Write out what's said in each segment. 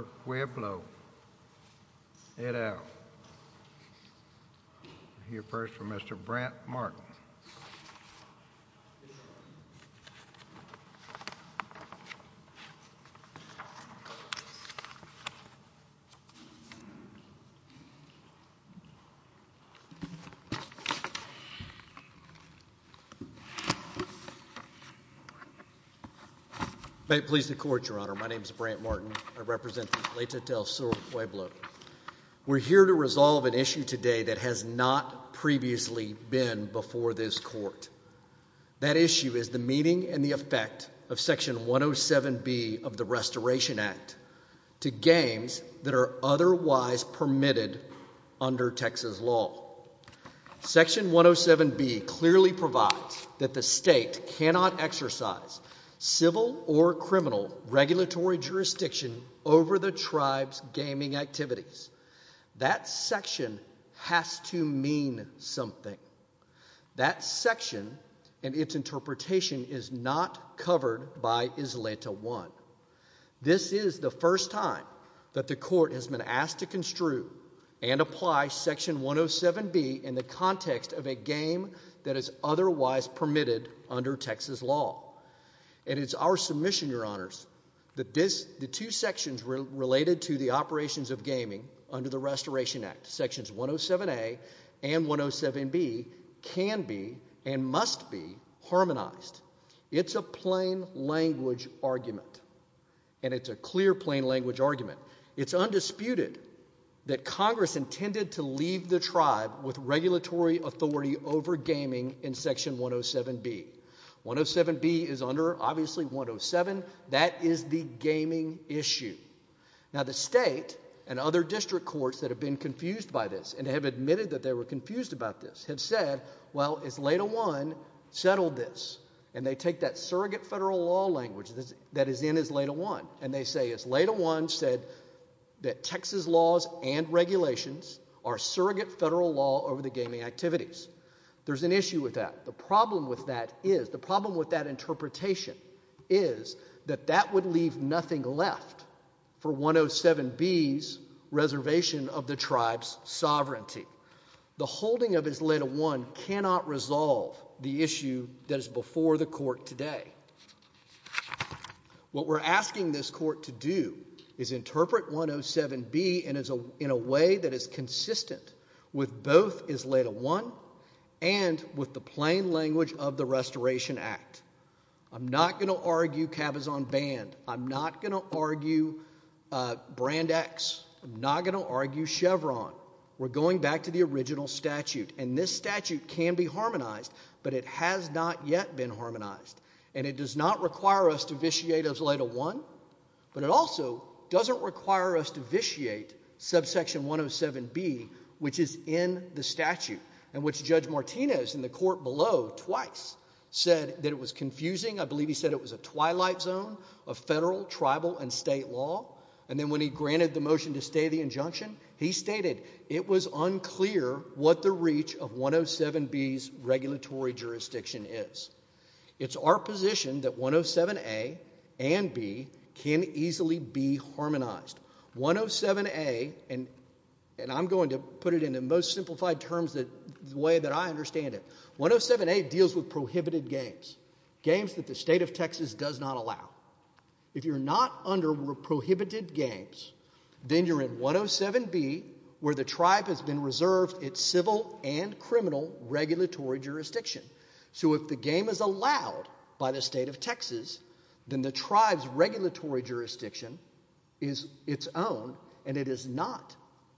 Ed out. We'll hear first from Mr. Brant Martin. May it please the Court, Your Honor. My name is Brant Martin. I represent Ysleta del Sur Pueblo. We're here to resolve an issue today that has not previously been before this Court. That issue is the meaning and the effect of Section 107B of the Restoration Act to games that are otherwise permitted under Texas law. Section 107B clearly provides that the state cannot exercise civil or criminal regulatory jurisdiction over the tribe's gaming activities. That section has to mean something. That section and its interpretation is not covered by Ysleta del Sur Pueblo. This is the first time that the Court has been asked to construe and apply Section 107B in the context of a game that is otherwise permitted under Texas law. And it's our submission, Your Honors, that the two sections related to the operations of gaming under the Restoration Act, Sections 107A and 107B, can be and must be harmonized. It's a plain-language argument, and it's a clear plain-language argument. It's undisputed that Congress intended to leave the tribe with regulatory authority over gaming in Section 107B. 107B is under, obviously, 107. That is the gaming issue. Now, the state and other district courts that have been confused by this and have admitted that they were confused about this have said, well, Ysleta I settled this. And they take that surrogate federal law language that is in Ysleta I, and they say Ysleta I said that Texas laws and regulations are surrogate federal law over the gaming activities. There's an issue with that. The problem with that is, the problem with that interpretation is that that would leave nothing left for 107B's tribe's sovereignty. The holding of Ysleta I cannot resolve the issue that is before the court today. What we're asking this court to do is interpret 107B in a way that is consistent with both Ysleta I and with the plain language of the Restoration Act. I'm not going to argue Chevron. We're going back to the original statute. And this statute can be harmonized, but it has not yet been harmonized. And it does not require us to vitiate Ysleta I, but it also doesn't require us to vitiate subsection 107B, which is in the statute, and which Judge Martinez in the court below twice said that it was confusing. I believe he said it was a twilight zone of federal, tribal, and state law. And then when he granted the motion to stay the injunction, he stated it was unclear what the reach of 107B's regulatory jurisdiction is. It's our position that 107A and B can easily be harmonized. 107A, and I'm going to put it in the most simplified terms, the way that I understand it, 107A deals with prohibited games, games that state of Texas does not allow. If you're not under prohibited games, then you're in 107B, where the tribe has been reserved its civil and criminal regulatory jurisdiction. So if the game is allowed by the state of Texas, then the tribe's regulatory jurisdiction is its own, and it is not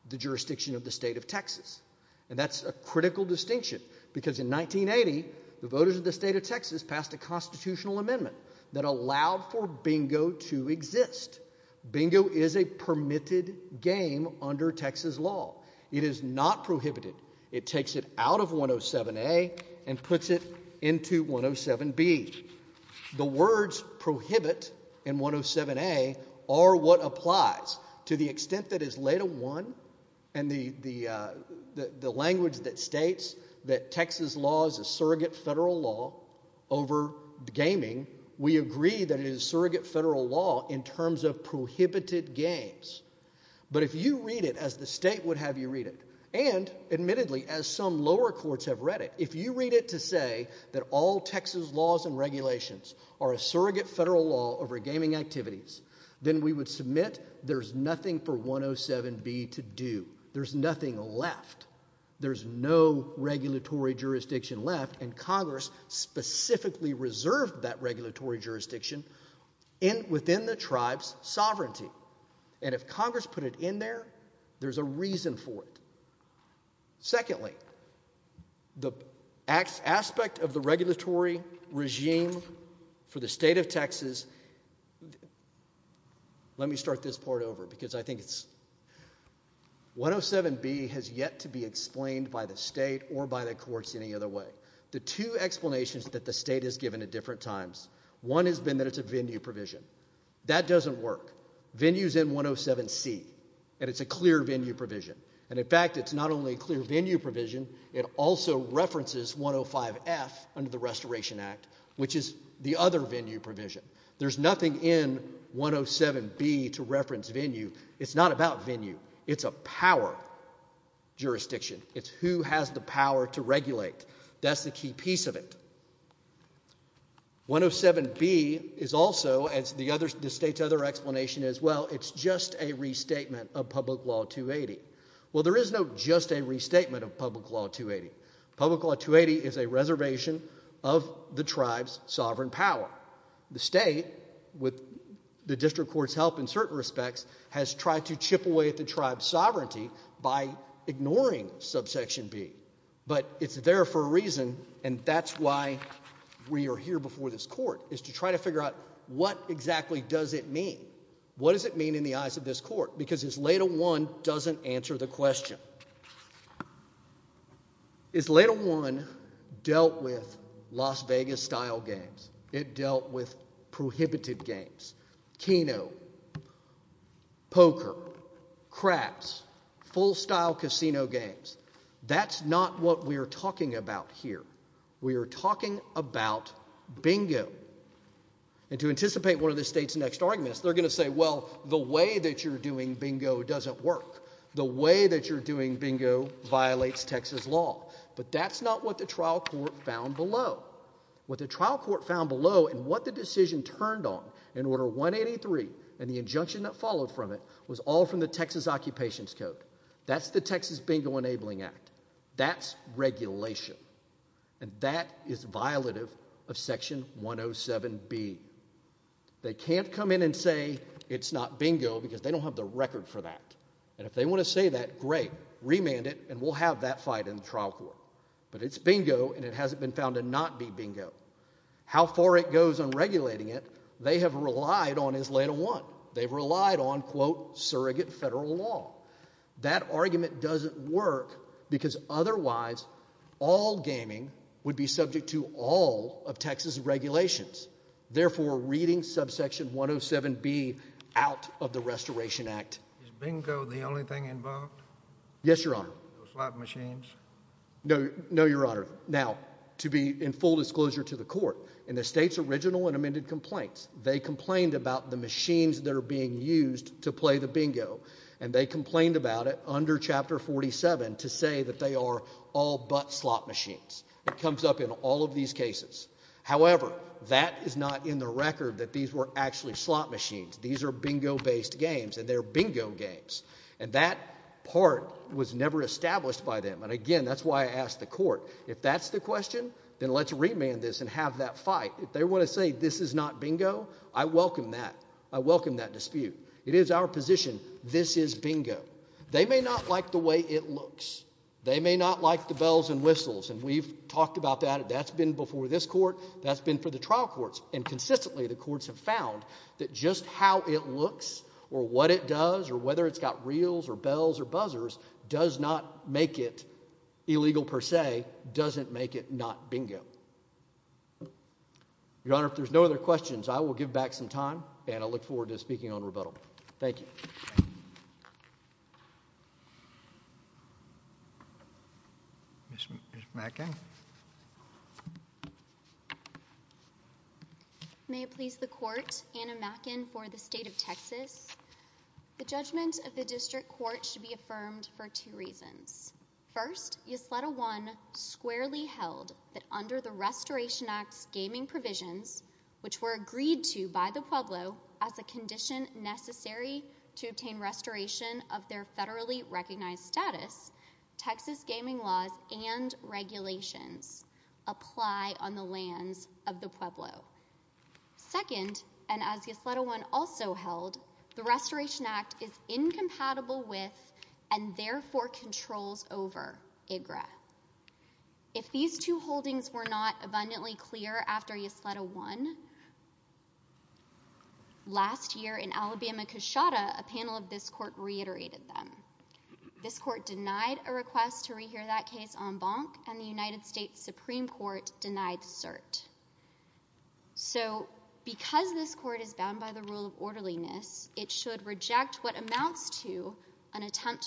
the jurisdiction of the state of Texas. And that's a critical distinction, because in 1980, the voters of the state of Texas passed a constitutional amendment that allowed for bingo to exist. Bingo is a permitted game under Texas law. It is not prohibited. It takes it out of 107A and puts it into 107B. The words prohibit in 107A are what applies to the extent that is federal law over gaming, we agree that it is surrogate federal law in terms of prohibited games. But if you read it as the state would have you read it, and admittedly, as some lower courts have read it, if you read it to say that all Texas laws and regulations are a surrogate federal law over gaming activities, then we would submit there's nothing for 107B to do. There's nothing left. There's no regulatory jurisdiction left, and Congress specifically reserved that regulatory jurisdiction within the tribe's sovereignty. And if Congress put it in there, there's a reason for it. Secondly, the aspect of the regulatory regime for the state of Texas, is, let me start this part over because I think it's, 107B has yet to be explained by the state or by the courts any other way. The two explanations that the state has given at different times, one has been that it's a venue provision. That doesn't work. Venues in 107C, and it's a clear venue provision. And in fact, it's not only a clear venue provision, it also references 105F under the Restoration Act, which is the other venue provision. There's nothing in 107B to reference venue. It's not about venue. It's a power jurisdiction. It's who has the power to regulate. That's the key piece of it. 107B is also, as the state's other explanation is, well, it's just a restatement of Public Law 280. Well, there is no just a restatement of Public Law 280. Public Law 280 is a reservation of the tribe's sovereign power. The state, with the district court's help in certain respects, has tried to chip away at the tribe's sovereignty by ignoring subsection B. But it's there for a reason, and that's why we are here before this court, is to try to figure out what exactly does it mean? What does it mean in the eyes of this court? Because LATA 1 doesn't answer the question. Is LATA 1 dealt with Las Vegas-style games? It dealt with prohibited games. Keno, poker, craps, full-style casino games. That's not what we're talking about here. We are talking about bingo. And to anticipate one of the state's next arguments, they're going to say, well, the way that you're doing bingo doesn't work. The way that you're doing bingo violates Texas law. But that's not what the trial court found below. What the trial court found below and what the decision turned on in Order 183 and the injunction that followed from it was all from the Texas Occupations Code. That's the Texas Bingo Enabling Act. That's regulation. And that is violative of Section 107B. They can't come in and say it's not bingo, because they don't have the record for that. And if they want to say that, great, remand it, and we'll have that fight in the trial court. But it's bingo, and it hasn't been found to not be bingo. How far it goes on regulating it, they have relied on is LATA 1. They've relied on, quote, all gaming would be subject to all of Texas regulations. Therefore, reading Subsection 107B out of the Restoration Act. Is bingo the only thing involved? Yes, Your Honor. Slap machines? No, Your Honor. Now, to be in full disclosure to the court, in the state's original and amended complaints, they complained about the machines that are being used to play the bingo, and they complained about it under Chapter 47 to say that they are all but slap machines. It comes up in all of these cases. However, that is not in the record that these were actually slap machines. These are bingo-based games, and they're bingo games. And that part was never established by them. And again, that's why I asked the court, if that's the question, then let's remand this and have that fight. If they want to say this is not bingo, I welcome that. I welcome that dispute. It is our position. This is bingo. They may not like the way it looks. They may not like the bells and whistles. And we've talked about that. That's been before this court. That's been for the trial courts. And consistently, the courts have found that just how it looks or what it does or whether it's got reels or bells or buzzers does not make it illegal per se, doesn't make it not bingo. Your Honor, if there's no other questions, I will give back some time, and I look forward to speaking on rebuttal. Thank you. Ms. Mackin. May it please the Court, Anna Mackin for the State of Texas. The judgment of the District Court should be affirmed for two reasons. First, Ysleta 1 squarely held that under the Restoration Act's gaming provisions, which were agreed to by the Pueblo as a condition necessary to obtain restoration of their federally recognized status, Texas gaming laws and regulations apply on the lands of the Pueblo. Second, and as Ysleta 1 also held, the Restoration Act is incompatible with and therefore controls over IGRA. If these two holdings were not abundantly clear after Ysleta 1, last year in Alabama-Coshawta, a panel of this Court reiterated them. This Court denied a request to rehear that case en banc, and the United States Supreme Court denied cert. So because this Court is bound by the rule of orderliness, it should reject what to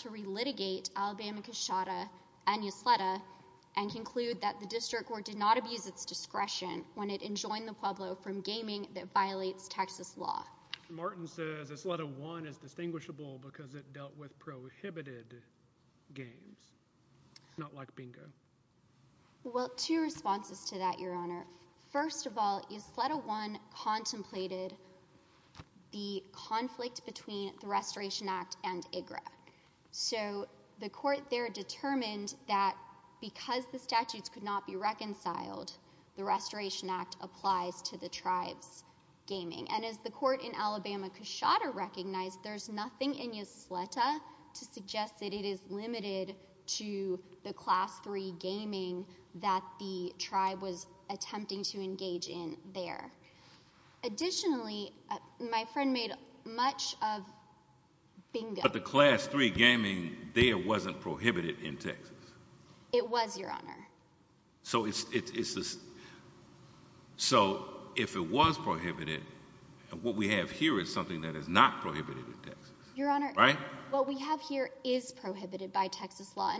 re-litigate Alabama-Coshawta and Ysleta and conclude that the District Court did not abuse its discretion when it enjoined the Pueblo from gaming that violates Texas law. Martin says Ysleta 1 is distinguishable because it dealt with prohibited games, not like bingo. Well, two responses to that, Your Honor. First of all, Ysleta 1 contemplated the conflict between the Restoration Act and IGRA. So the Court there determined that because the statutes could not be reconciled, the Restoration Act applies to the tribe's gaming. And as the Court in Alabama-Coshawta recognized, there's nothing in Ysleta to suggest that it is limited to the Class 3 gaming that the tribe was attempting to engage in there. Additionally, my friend made much of bingo. But the Class 3 gaming there wasn't prohibited in Texas. It was, Your Honor. So if it was prohibited, what we have here is something that is not prohibited in Texas. What we have here is prohibited by Texas law.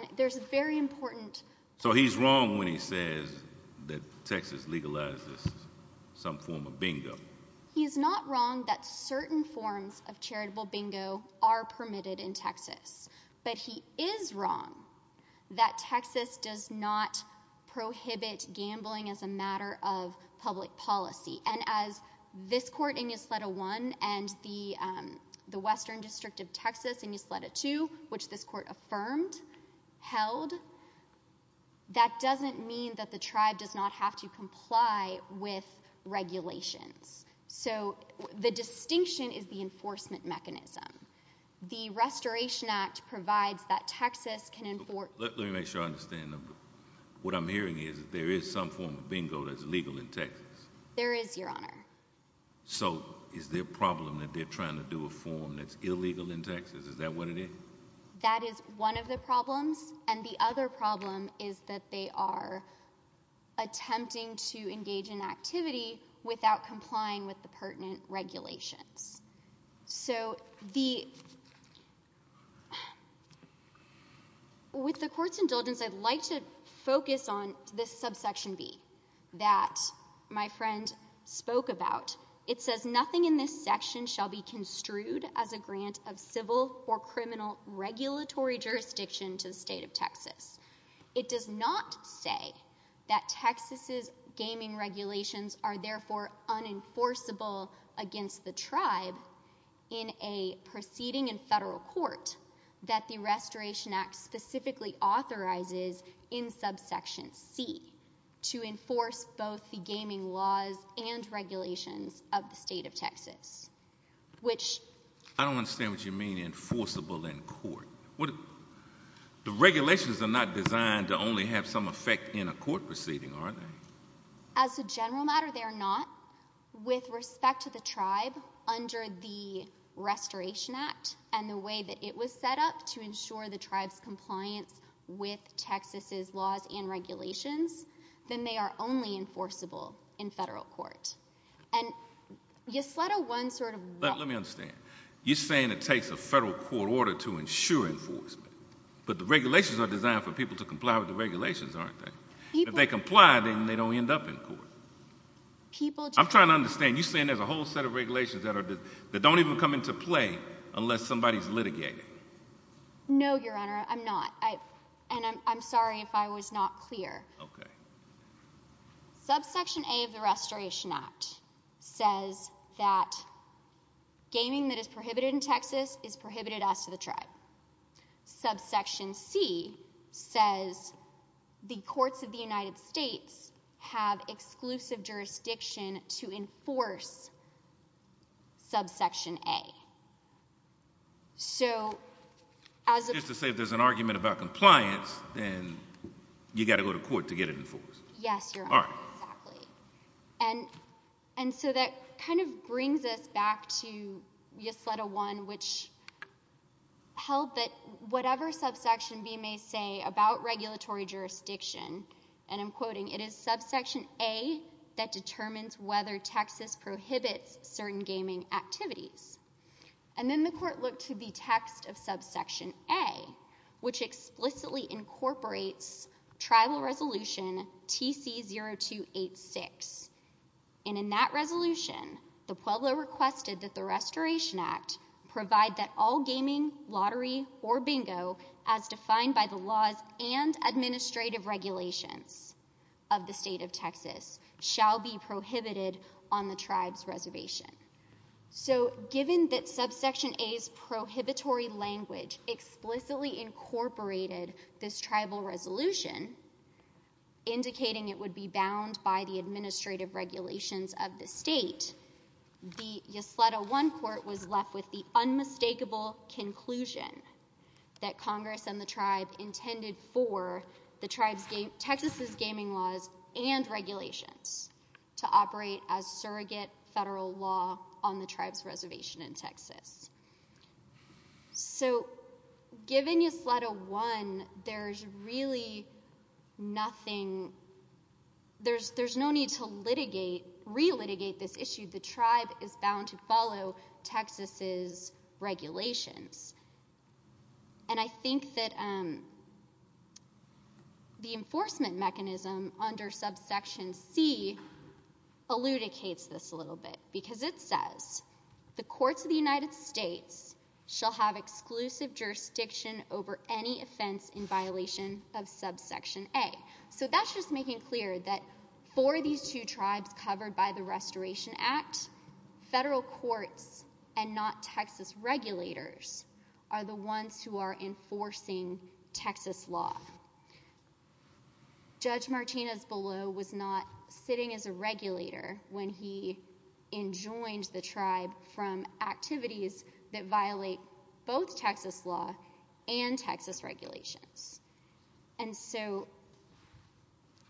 So he's wrong when he says that Texas legalizes some form of bingo. He's not wrong that certain forms of charitable bingo are permitted in Texas. But he is wrong that Texas does not prohibit gambling as a matter of public policy. And as this Court in Ysleta 1 and the Western District of Texas in Ysleta 2, which this Court affirmed, held, that doesn't mean that the tribe does not have to comply with regulations. So the distinction is the enforcement mechanism. The Restoration Act provides that Texas can enforce— Let me make sure I understand. What I'm hearing is there is some form of bingo that's legal in Texas. There is, Your Honor. So is there a problem that they're trying to do a form that's illegal in Texas? Is that what it is? That is one of the problems. And the other problem is that they are attempting to engage in activity without complying with the pertinent regulations. So the— I'd like to focus on this subsection B that my friend spoke about. It says, Nothing in this section shall be construed as a grant of civil or criminal regulatory jurisdiction to the state of Texas. It does not say that Texas's gaming regulations are therefore unenforceable against the tribe in a proceeding in federal court that the Restoration Act specifically authorizes in subsection C to enforce both the gaming laws and regulations of the state of Texas, which— I don't understand what you mean enforceable in court. The regulations are not designed to only have some effect in a court proceeding, are they? As a general matter, they are not. With respect to the tribe, under the Restoration Act and the Restoration Act, if it was set up to ensure the tribe's compliance with Texas's laws and regulations, then they are only enforceable in federal court. And yes, let a one sort of— Let me understand. You're saying it takes a federal court order to ensure enforcement, but the regulations are designed for people to comply with the regulations, aren't they? If they comply, then they don't end up in court. I'm trying to understand. You're saying there's a whole set of regulations that don't even come to play unless somebody's litigated. No, Your Honor, I'm not. And I'm sorry if I was not clear. Okay. Subsection A of the Restoration Act says that gaming that is prohibited in Texas is prohibited as to the tribe. Subsection C says the courts of the United States have exclusive jurisdiction to enforce subsection A. So, as a— Just to say, if there's an argument about compliance, then you got to go to court to get it enforced. Yes, Your Honor, exactly. And so that kind of brings us back to yes, let a one, which held that whatever subsection B may say about regulatory jurisdiction, and I'm quoting, it is subsection A that determines whether Texas prohibits certain gaming activities. And then the court looked to the text of subsection A, which explicitly incorporates Tribal Resolution TC0286. And in that resolution, the Pueblo requested that the Restoration Act provide that all gaming, lottery, or bingo, as defined by the laws and administrative regulations, of the state of Texas, shall be prohibited on the tribe's reservation. So, given that subsection A's prohibitory language explicitly incorporated this Tribal Resolution, indicating it would be bound by the administrative regulations of the state, the yes, let a one court was left with the unmistakable conclusion that Congress and the regulations to operate as surrogate federal law on the tribe's reservation in Texas. So, given yes, let a one, there's really nothing, there's no need to litigate, re-litigate this issue. The tribe is bound to follow Texas's regulations. And I think that the enforcement mechanism under subsection C eludicates this a little bit, because it says, the courts of the United States shall have exclusive jurisdiction over any offense in violation of subsection A. So, that's just making clear that for these two tribes covered by the Texas law. Judge Martinez-Below was not sitting as a regulator when he enjoined the tribe from activities that violate both Texas law and Texas regulations. And so,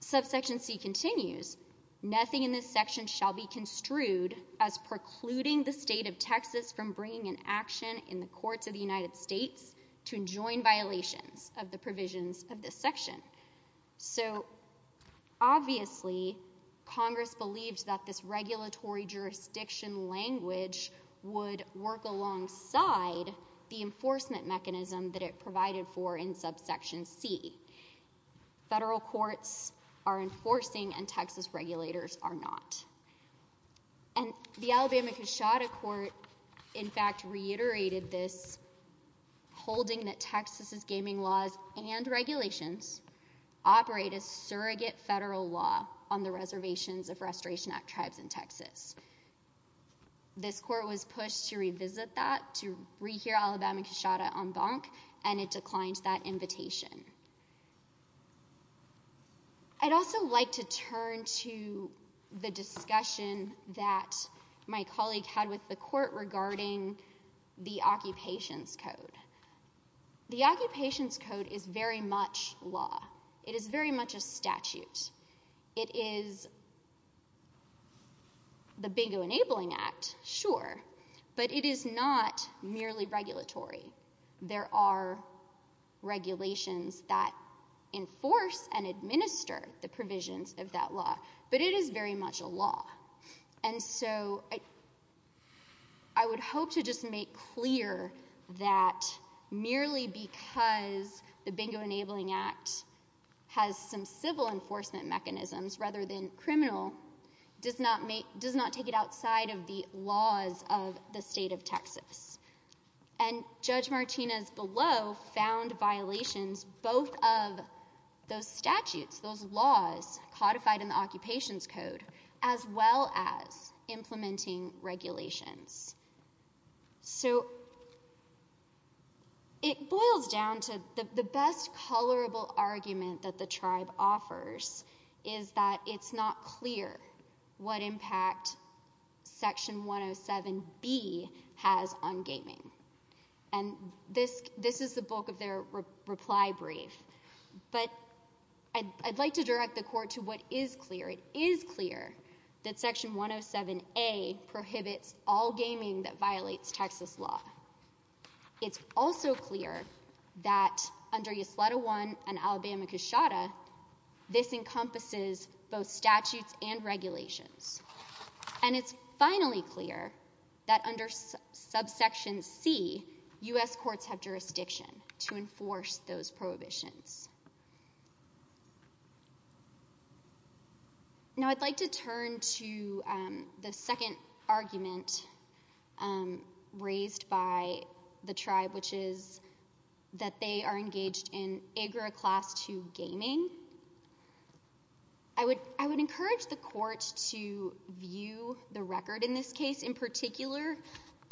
subsection C continues, nothing in this section shall be construed as precluding the state of Texas from bringing an action in the courts of the United States to enjoin violations of the provisions of this section. So, obviously, Congress believed that this regulatory jurisdiction language would work alongside the enforcement mechanism that it provided for in subsection C. Federal courts are enforcing and Texas regulators are not. And the Alabama-Coshawta court, in fact, reiterated this, holding that Texas's gaming laws and regulations operate as surrogate federal law on the reservations of Restoration Act tribes in Texas. This court was pushed to revisit that, to rehear Alabama-Coshawta en banc, and it declined that invitation. I'd also like to turn to the discussion that my colleague had with the court regarding the Occupations Code. The Occupations Code is very much law. It is very much a statute. It is the Bingo Enabling Act, sure, but it is not merely regulatory. There are regulations that enforce and administer the provisions of that law, but it is very much a law. And so, I would hope to just make clear that merely because the Bingo Enabling Act has some civil enforcement mechanisms rather than criminal, does not take it outside of the laws of the state of Texas. And Judge Martinez below found violations both of those statutes, those laws codified in the Occupations Code, as well as implementing regulations. So, it boils down to the best colorable argument that the tribe offers is that it's not clear what impact Section 107B has on gaming. And this is the bulk of their reply brief, but I'd like to direct the court to what is clear. It is clear that Section 107A prohibits all gaming that violates Texas law. It's also clear that under Ysleta 1 and Alabama Cushata, this encompasses both statutes and regulations. And it's finally clear that under Subsection C, U.S. courts have jurisdiction to enforce those that they are engaged in AGRA Class 2 gaming. I would encourage the court to view the record in this case in particular,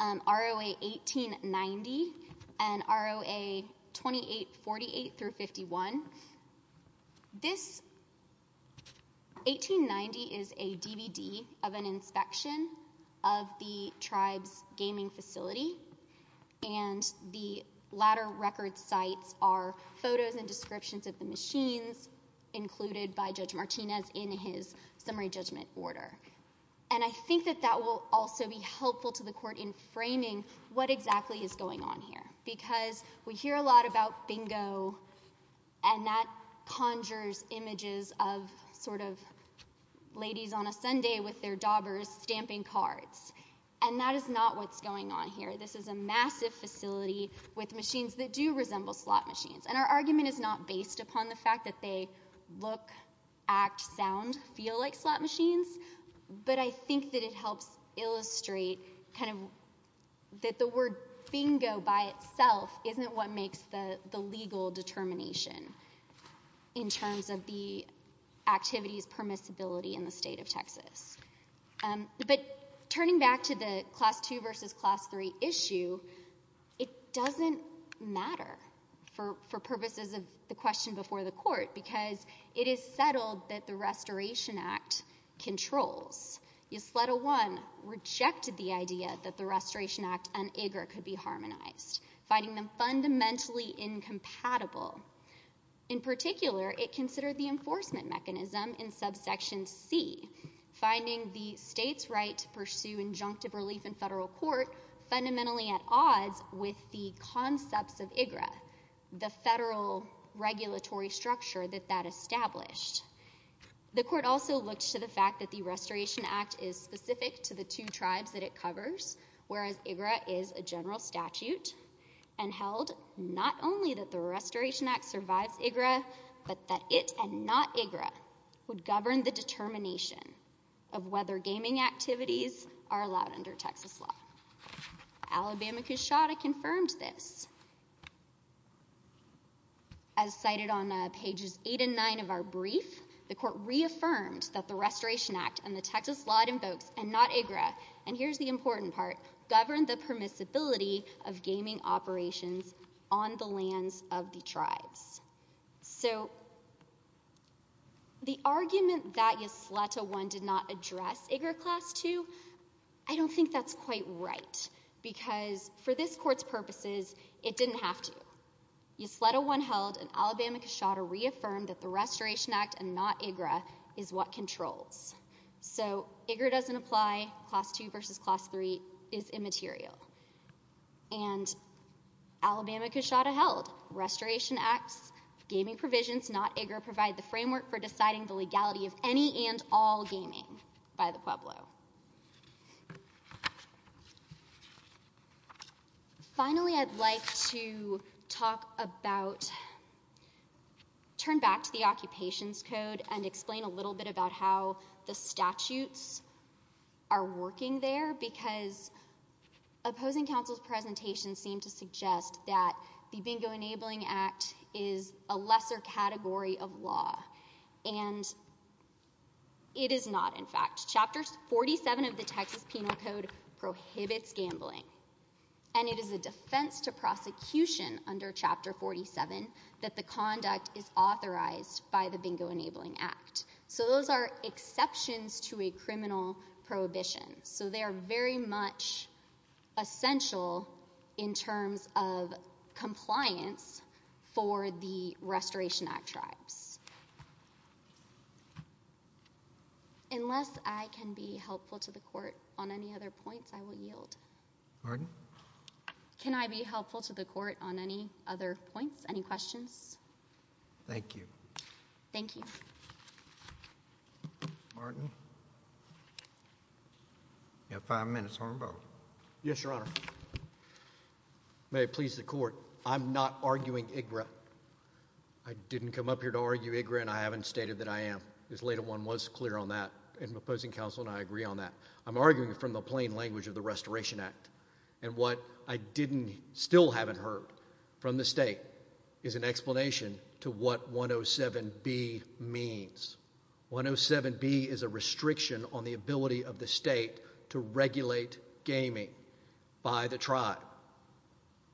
ROA 1890 and ROA 2848-51. This 1890 is a DVD of an inspection of the tribe's gaming facility, and the latter record sites are photos and descriptions of the machines included by Judge Martinez in his summary judgment order. And I think that that will also be helpful to the court in framing what exactly is going on here, because we hear a lot about bingo, and that conjures images of sort of ladies on a Sunday with their daubers stamping cards. And that is not what's going on here. This is a massive facility with machines that do resemble slot machines. And our argument is not based upon the fact that they look, act, sound, feel like slot machines, but I think that it helps illustrate kind of that the word bingo by itself isn't what the legal determination in terms of the activity's permissibility in the state of Texas. But turning back to the Class 2 versus Class 3 issue, it doesn't matter for purposes of the question before the court, because it is settled that the Restoration Act controls. Ysleta 1 rejected the idea that the Restoration Act and IGRA could be harmonized, finding them fundamentally incompatible. In particular, it considered the enforcement mechanism in subsection C, finding the state's right to pursue injunctive relief in federal court fundamentally at odds with the concepts of IGRA, the federal regulatory structure that that established. The court also looked to the fact that the Restoration Act is specific to the two tribes that it covers, whereas IGRA is a general statute, and held not only that the Restoration Act survives IGRA, but that it and not IGRA would govern the determination of whether gaming activities are allowed under Texas law. Alabama Cushawda confirmed this. As cited on pages eight and nine of our brief, the court reaffirmed that the Restoration Act and the Texas law it invokes, and not IGRA, and here's the important part, govern the permissibility of gaming operations on the lands of the tribes. So the argument that Ysleta 1 did not address IGRA class 2, I don't think that's quite right, because for this court's purposes, it didn't have to. Ysleta 1 held, and Alabama Cushawda reaffirmed that the Restoration Act and not IGRA is what controls. So IGRA doesn't apply, class 2 versus class 3 is immaterial, and Alabama Cushawda held Restoration Act's gaming provisions, not IGRA, provide the framework for deciding the legality of any and all gaming by the Pueblo. Finally, I'd like to talk about, turn back to the Occupations Code and explain a little bit about how the statutes are working there, because opposing counsel's presentations seem to suggest that the Bingo Enabling Act is a lesser category of law, and it is not, in fact. Chapter 47 of the Texas Penal Code prohibits gambling, and it is a defense to prosecution under Chapter 47 that the conduct is authorized by the Bingo Enabling Act. So those are exceptions to a compliance for the Restoration Act tribes. Unless I can be helpful to the court on any other points, I will yield. Pardon? Can I be helpful to the court on any other points, any questions? Thank you. Thank you. Martin? You have five minutes, Horne-Bowe. Yes, Your Honor. May it please the court, I'm not arguing IGRA. I didn't come up here to argue IGRA, and I haven't stated that I am. This later one was clear on that, and opposing counsel and I agree on that. I'm arguing from the plain language of the Restoration Act, and what I didn't, still haven't heard from the state is an explanation to what 107B means. 107B is a restriction on the ability of the state to regulate gaming by the tribe.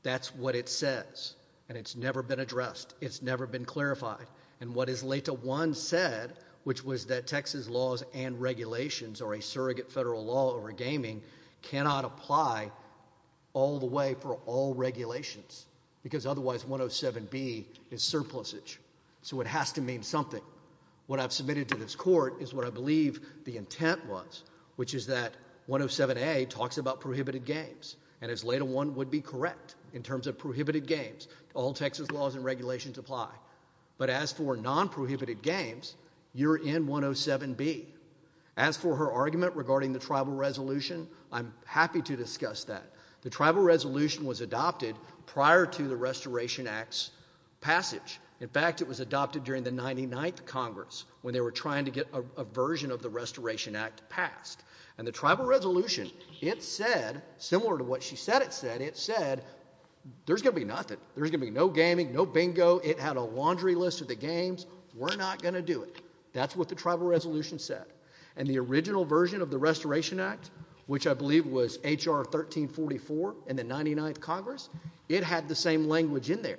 That's what it says, and it's never been addressed. It's never been clarified, and what is later one said, which was that Texas laws and regulations, or a surrogate federal law for gaming, cannot apply all the way for all regulations, because otherwise 107B is surplusage, so it has to mean something. What I've submitted to this court is what I believe the intent was, which is that 107A talks about prohibited games, and as later one would be correct in terms of prohibited games, all Texas laws and regulations apply, but as for non-prohibited games, you're in 107B. As for her argument regarding the Tribal Resolution, I'm happy to discuss that. The Tribal Resolution was adopted prior to the Restoration Act's passage. In fact, it was adopted during the 99th Congress, when they were trying to get a version of the Restoration Act passed, and the Tribal Resolution, it said, similar to what she said it said, it said there's going to be nothing. There's going to be no gaming, no bingo. It had a laundry list of the games. We're not going to do it. That's what the Tribal Resolution said, and the original version of the Restoration Act, which I believe was H.R. 1344 in the 99th Congress, it had the same language in there.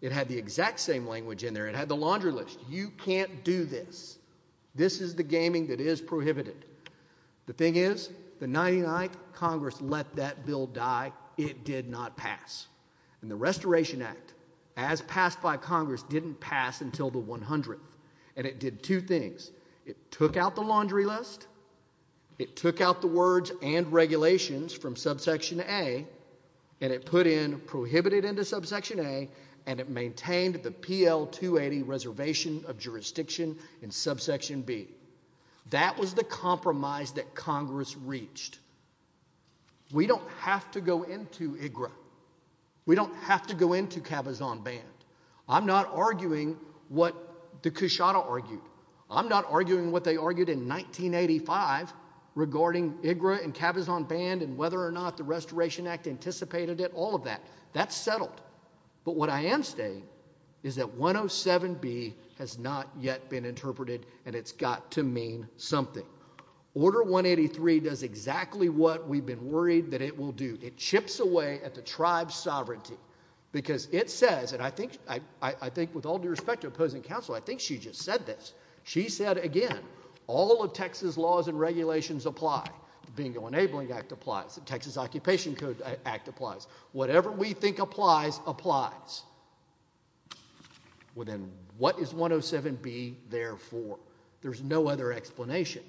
It had the exact same language in there. It had the laundry list. You can't do this. This is the gaming that is prohibited. The thing is, the 99th Congress let that bill die. It did not pass, and the did two things. It took out the laundry list. It took out the words and regulations from Subsection A, and it put in prohibited into Subsection A, and it maintained the PL-280 Reservation of Jurisdiction in Subsection B. That was the compromise that Congress reached. We don't have to go into IGRA. We don't have to go into Cabazon Band. I'm not arguing what the I'm not arguing what they argued in 1985 regarding IGRA and Cabazon Band and whether or not the Restoration Act anticipated it, all of that. That's settled, but what I am saying is that 107B has not yet been interpreted, and it's got to mean something. Order 183 does exactly what we've been worried that it will do. It chips away at the tribe's sovereignty because it says, and I think with all due respect to opposing counsel, I think she just said this. She said, again, all of Texas laws and regulations apply. The Bingo Enabling Act applies. The Texas Occupation Code Act applies. Whatever we think applies, applies. Well, then what is 107B there for? There's no other explanation.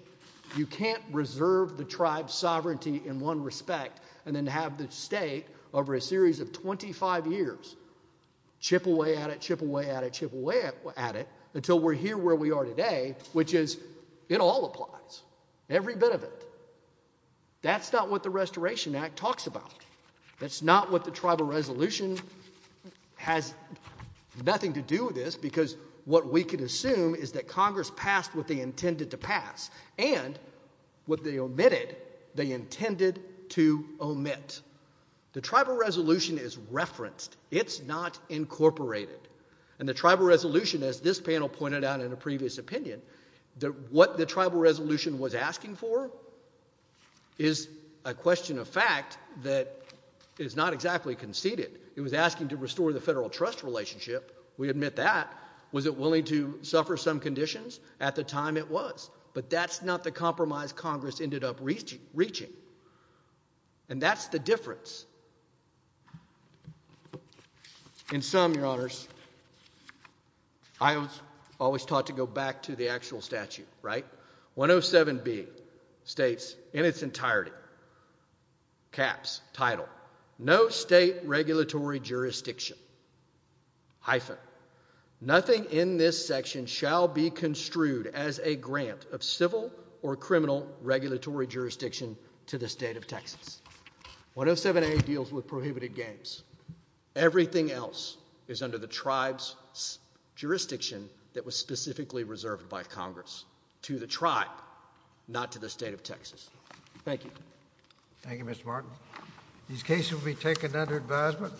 You can't reserve the tribe's sovereignty in one respect and then have the state over a series of at it until we're here where we are today, which is it all applies, every bit of it. That's not what the Restoration Act talks about. That's not what the Tribal Resolution has nothing to do with this because what we could assume is that Congress passed what they intended to pass and what they omitted they intended to omit. The Tribal Resolution is as this panel pointed out in a previous opinion that what the Tribal Resolution was asking for is a question of fact that is not exactly conceded. It was asking to restore the federal trust relationship. We admit that. Was it willing to suffer some conditions? At the time it was, but that's not the compromise Congress ended up reaching and that's the difference. In sum, your honors, I was always taught to go back to the actual statute, right? 107B states in its entirety, caps, title, no state regulatory jurisdiction, hyphen, nothing in this section shall be construed as a grant of civil or criminal regulatory jurisdiction to the state of Texas. Everything else is under the tribe's jurisdiction that was specifically reserved by Congress to the tribe, not to the state of Texas. Thank you. Thank you, Mr. Martin. These cases will be taken under advisement.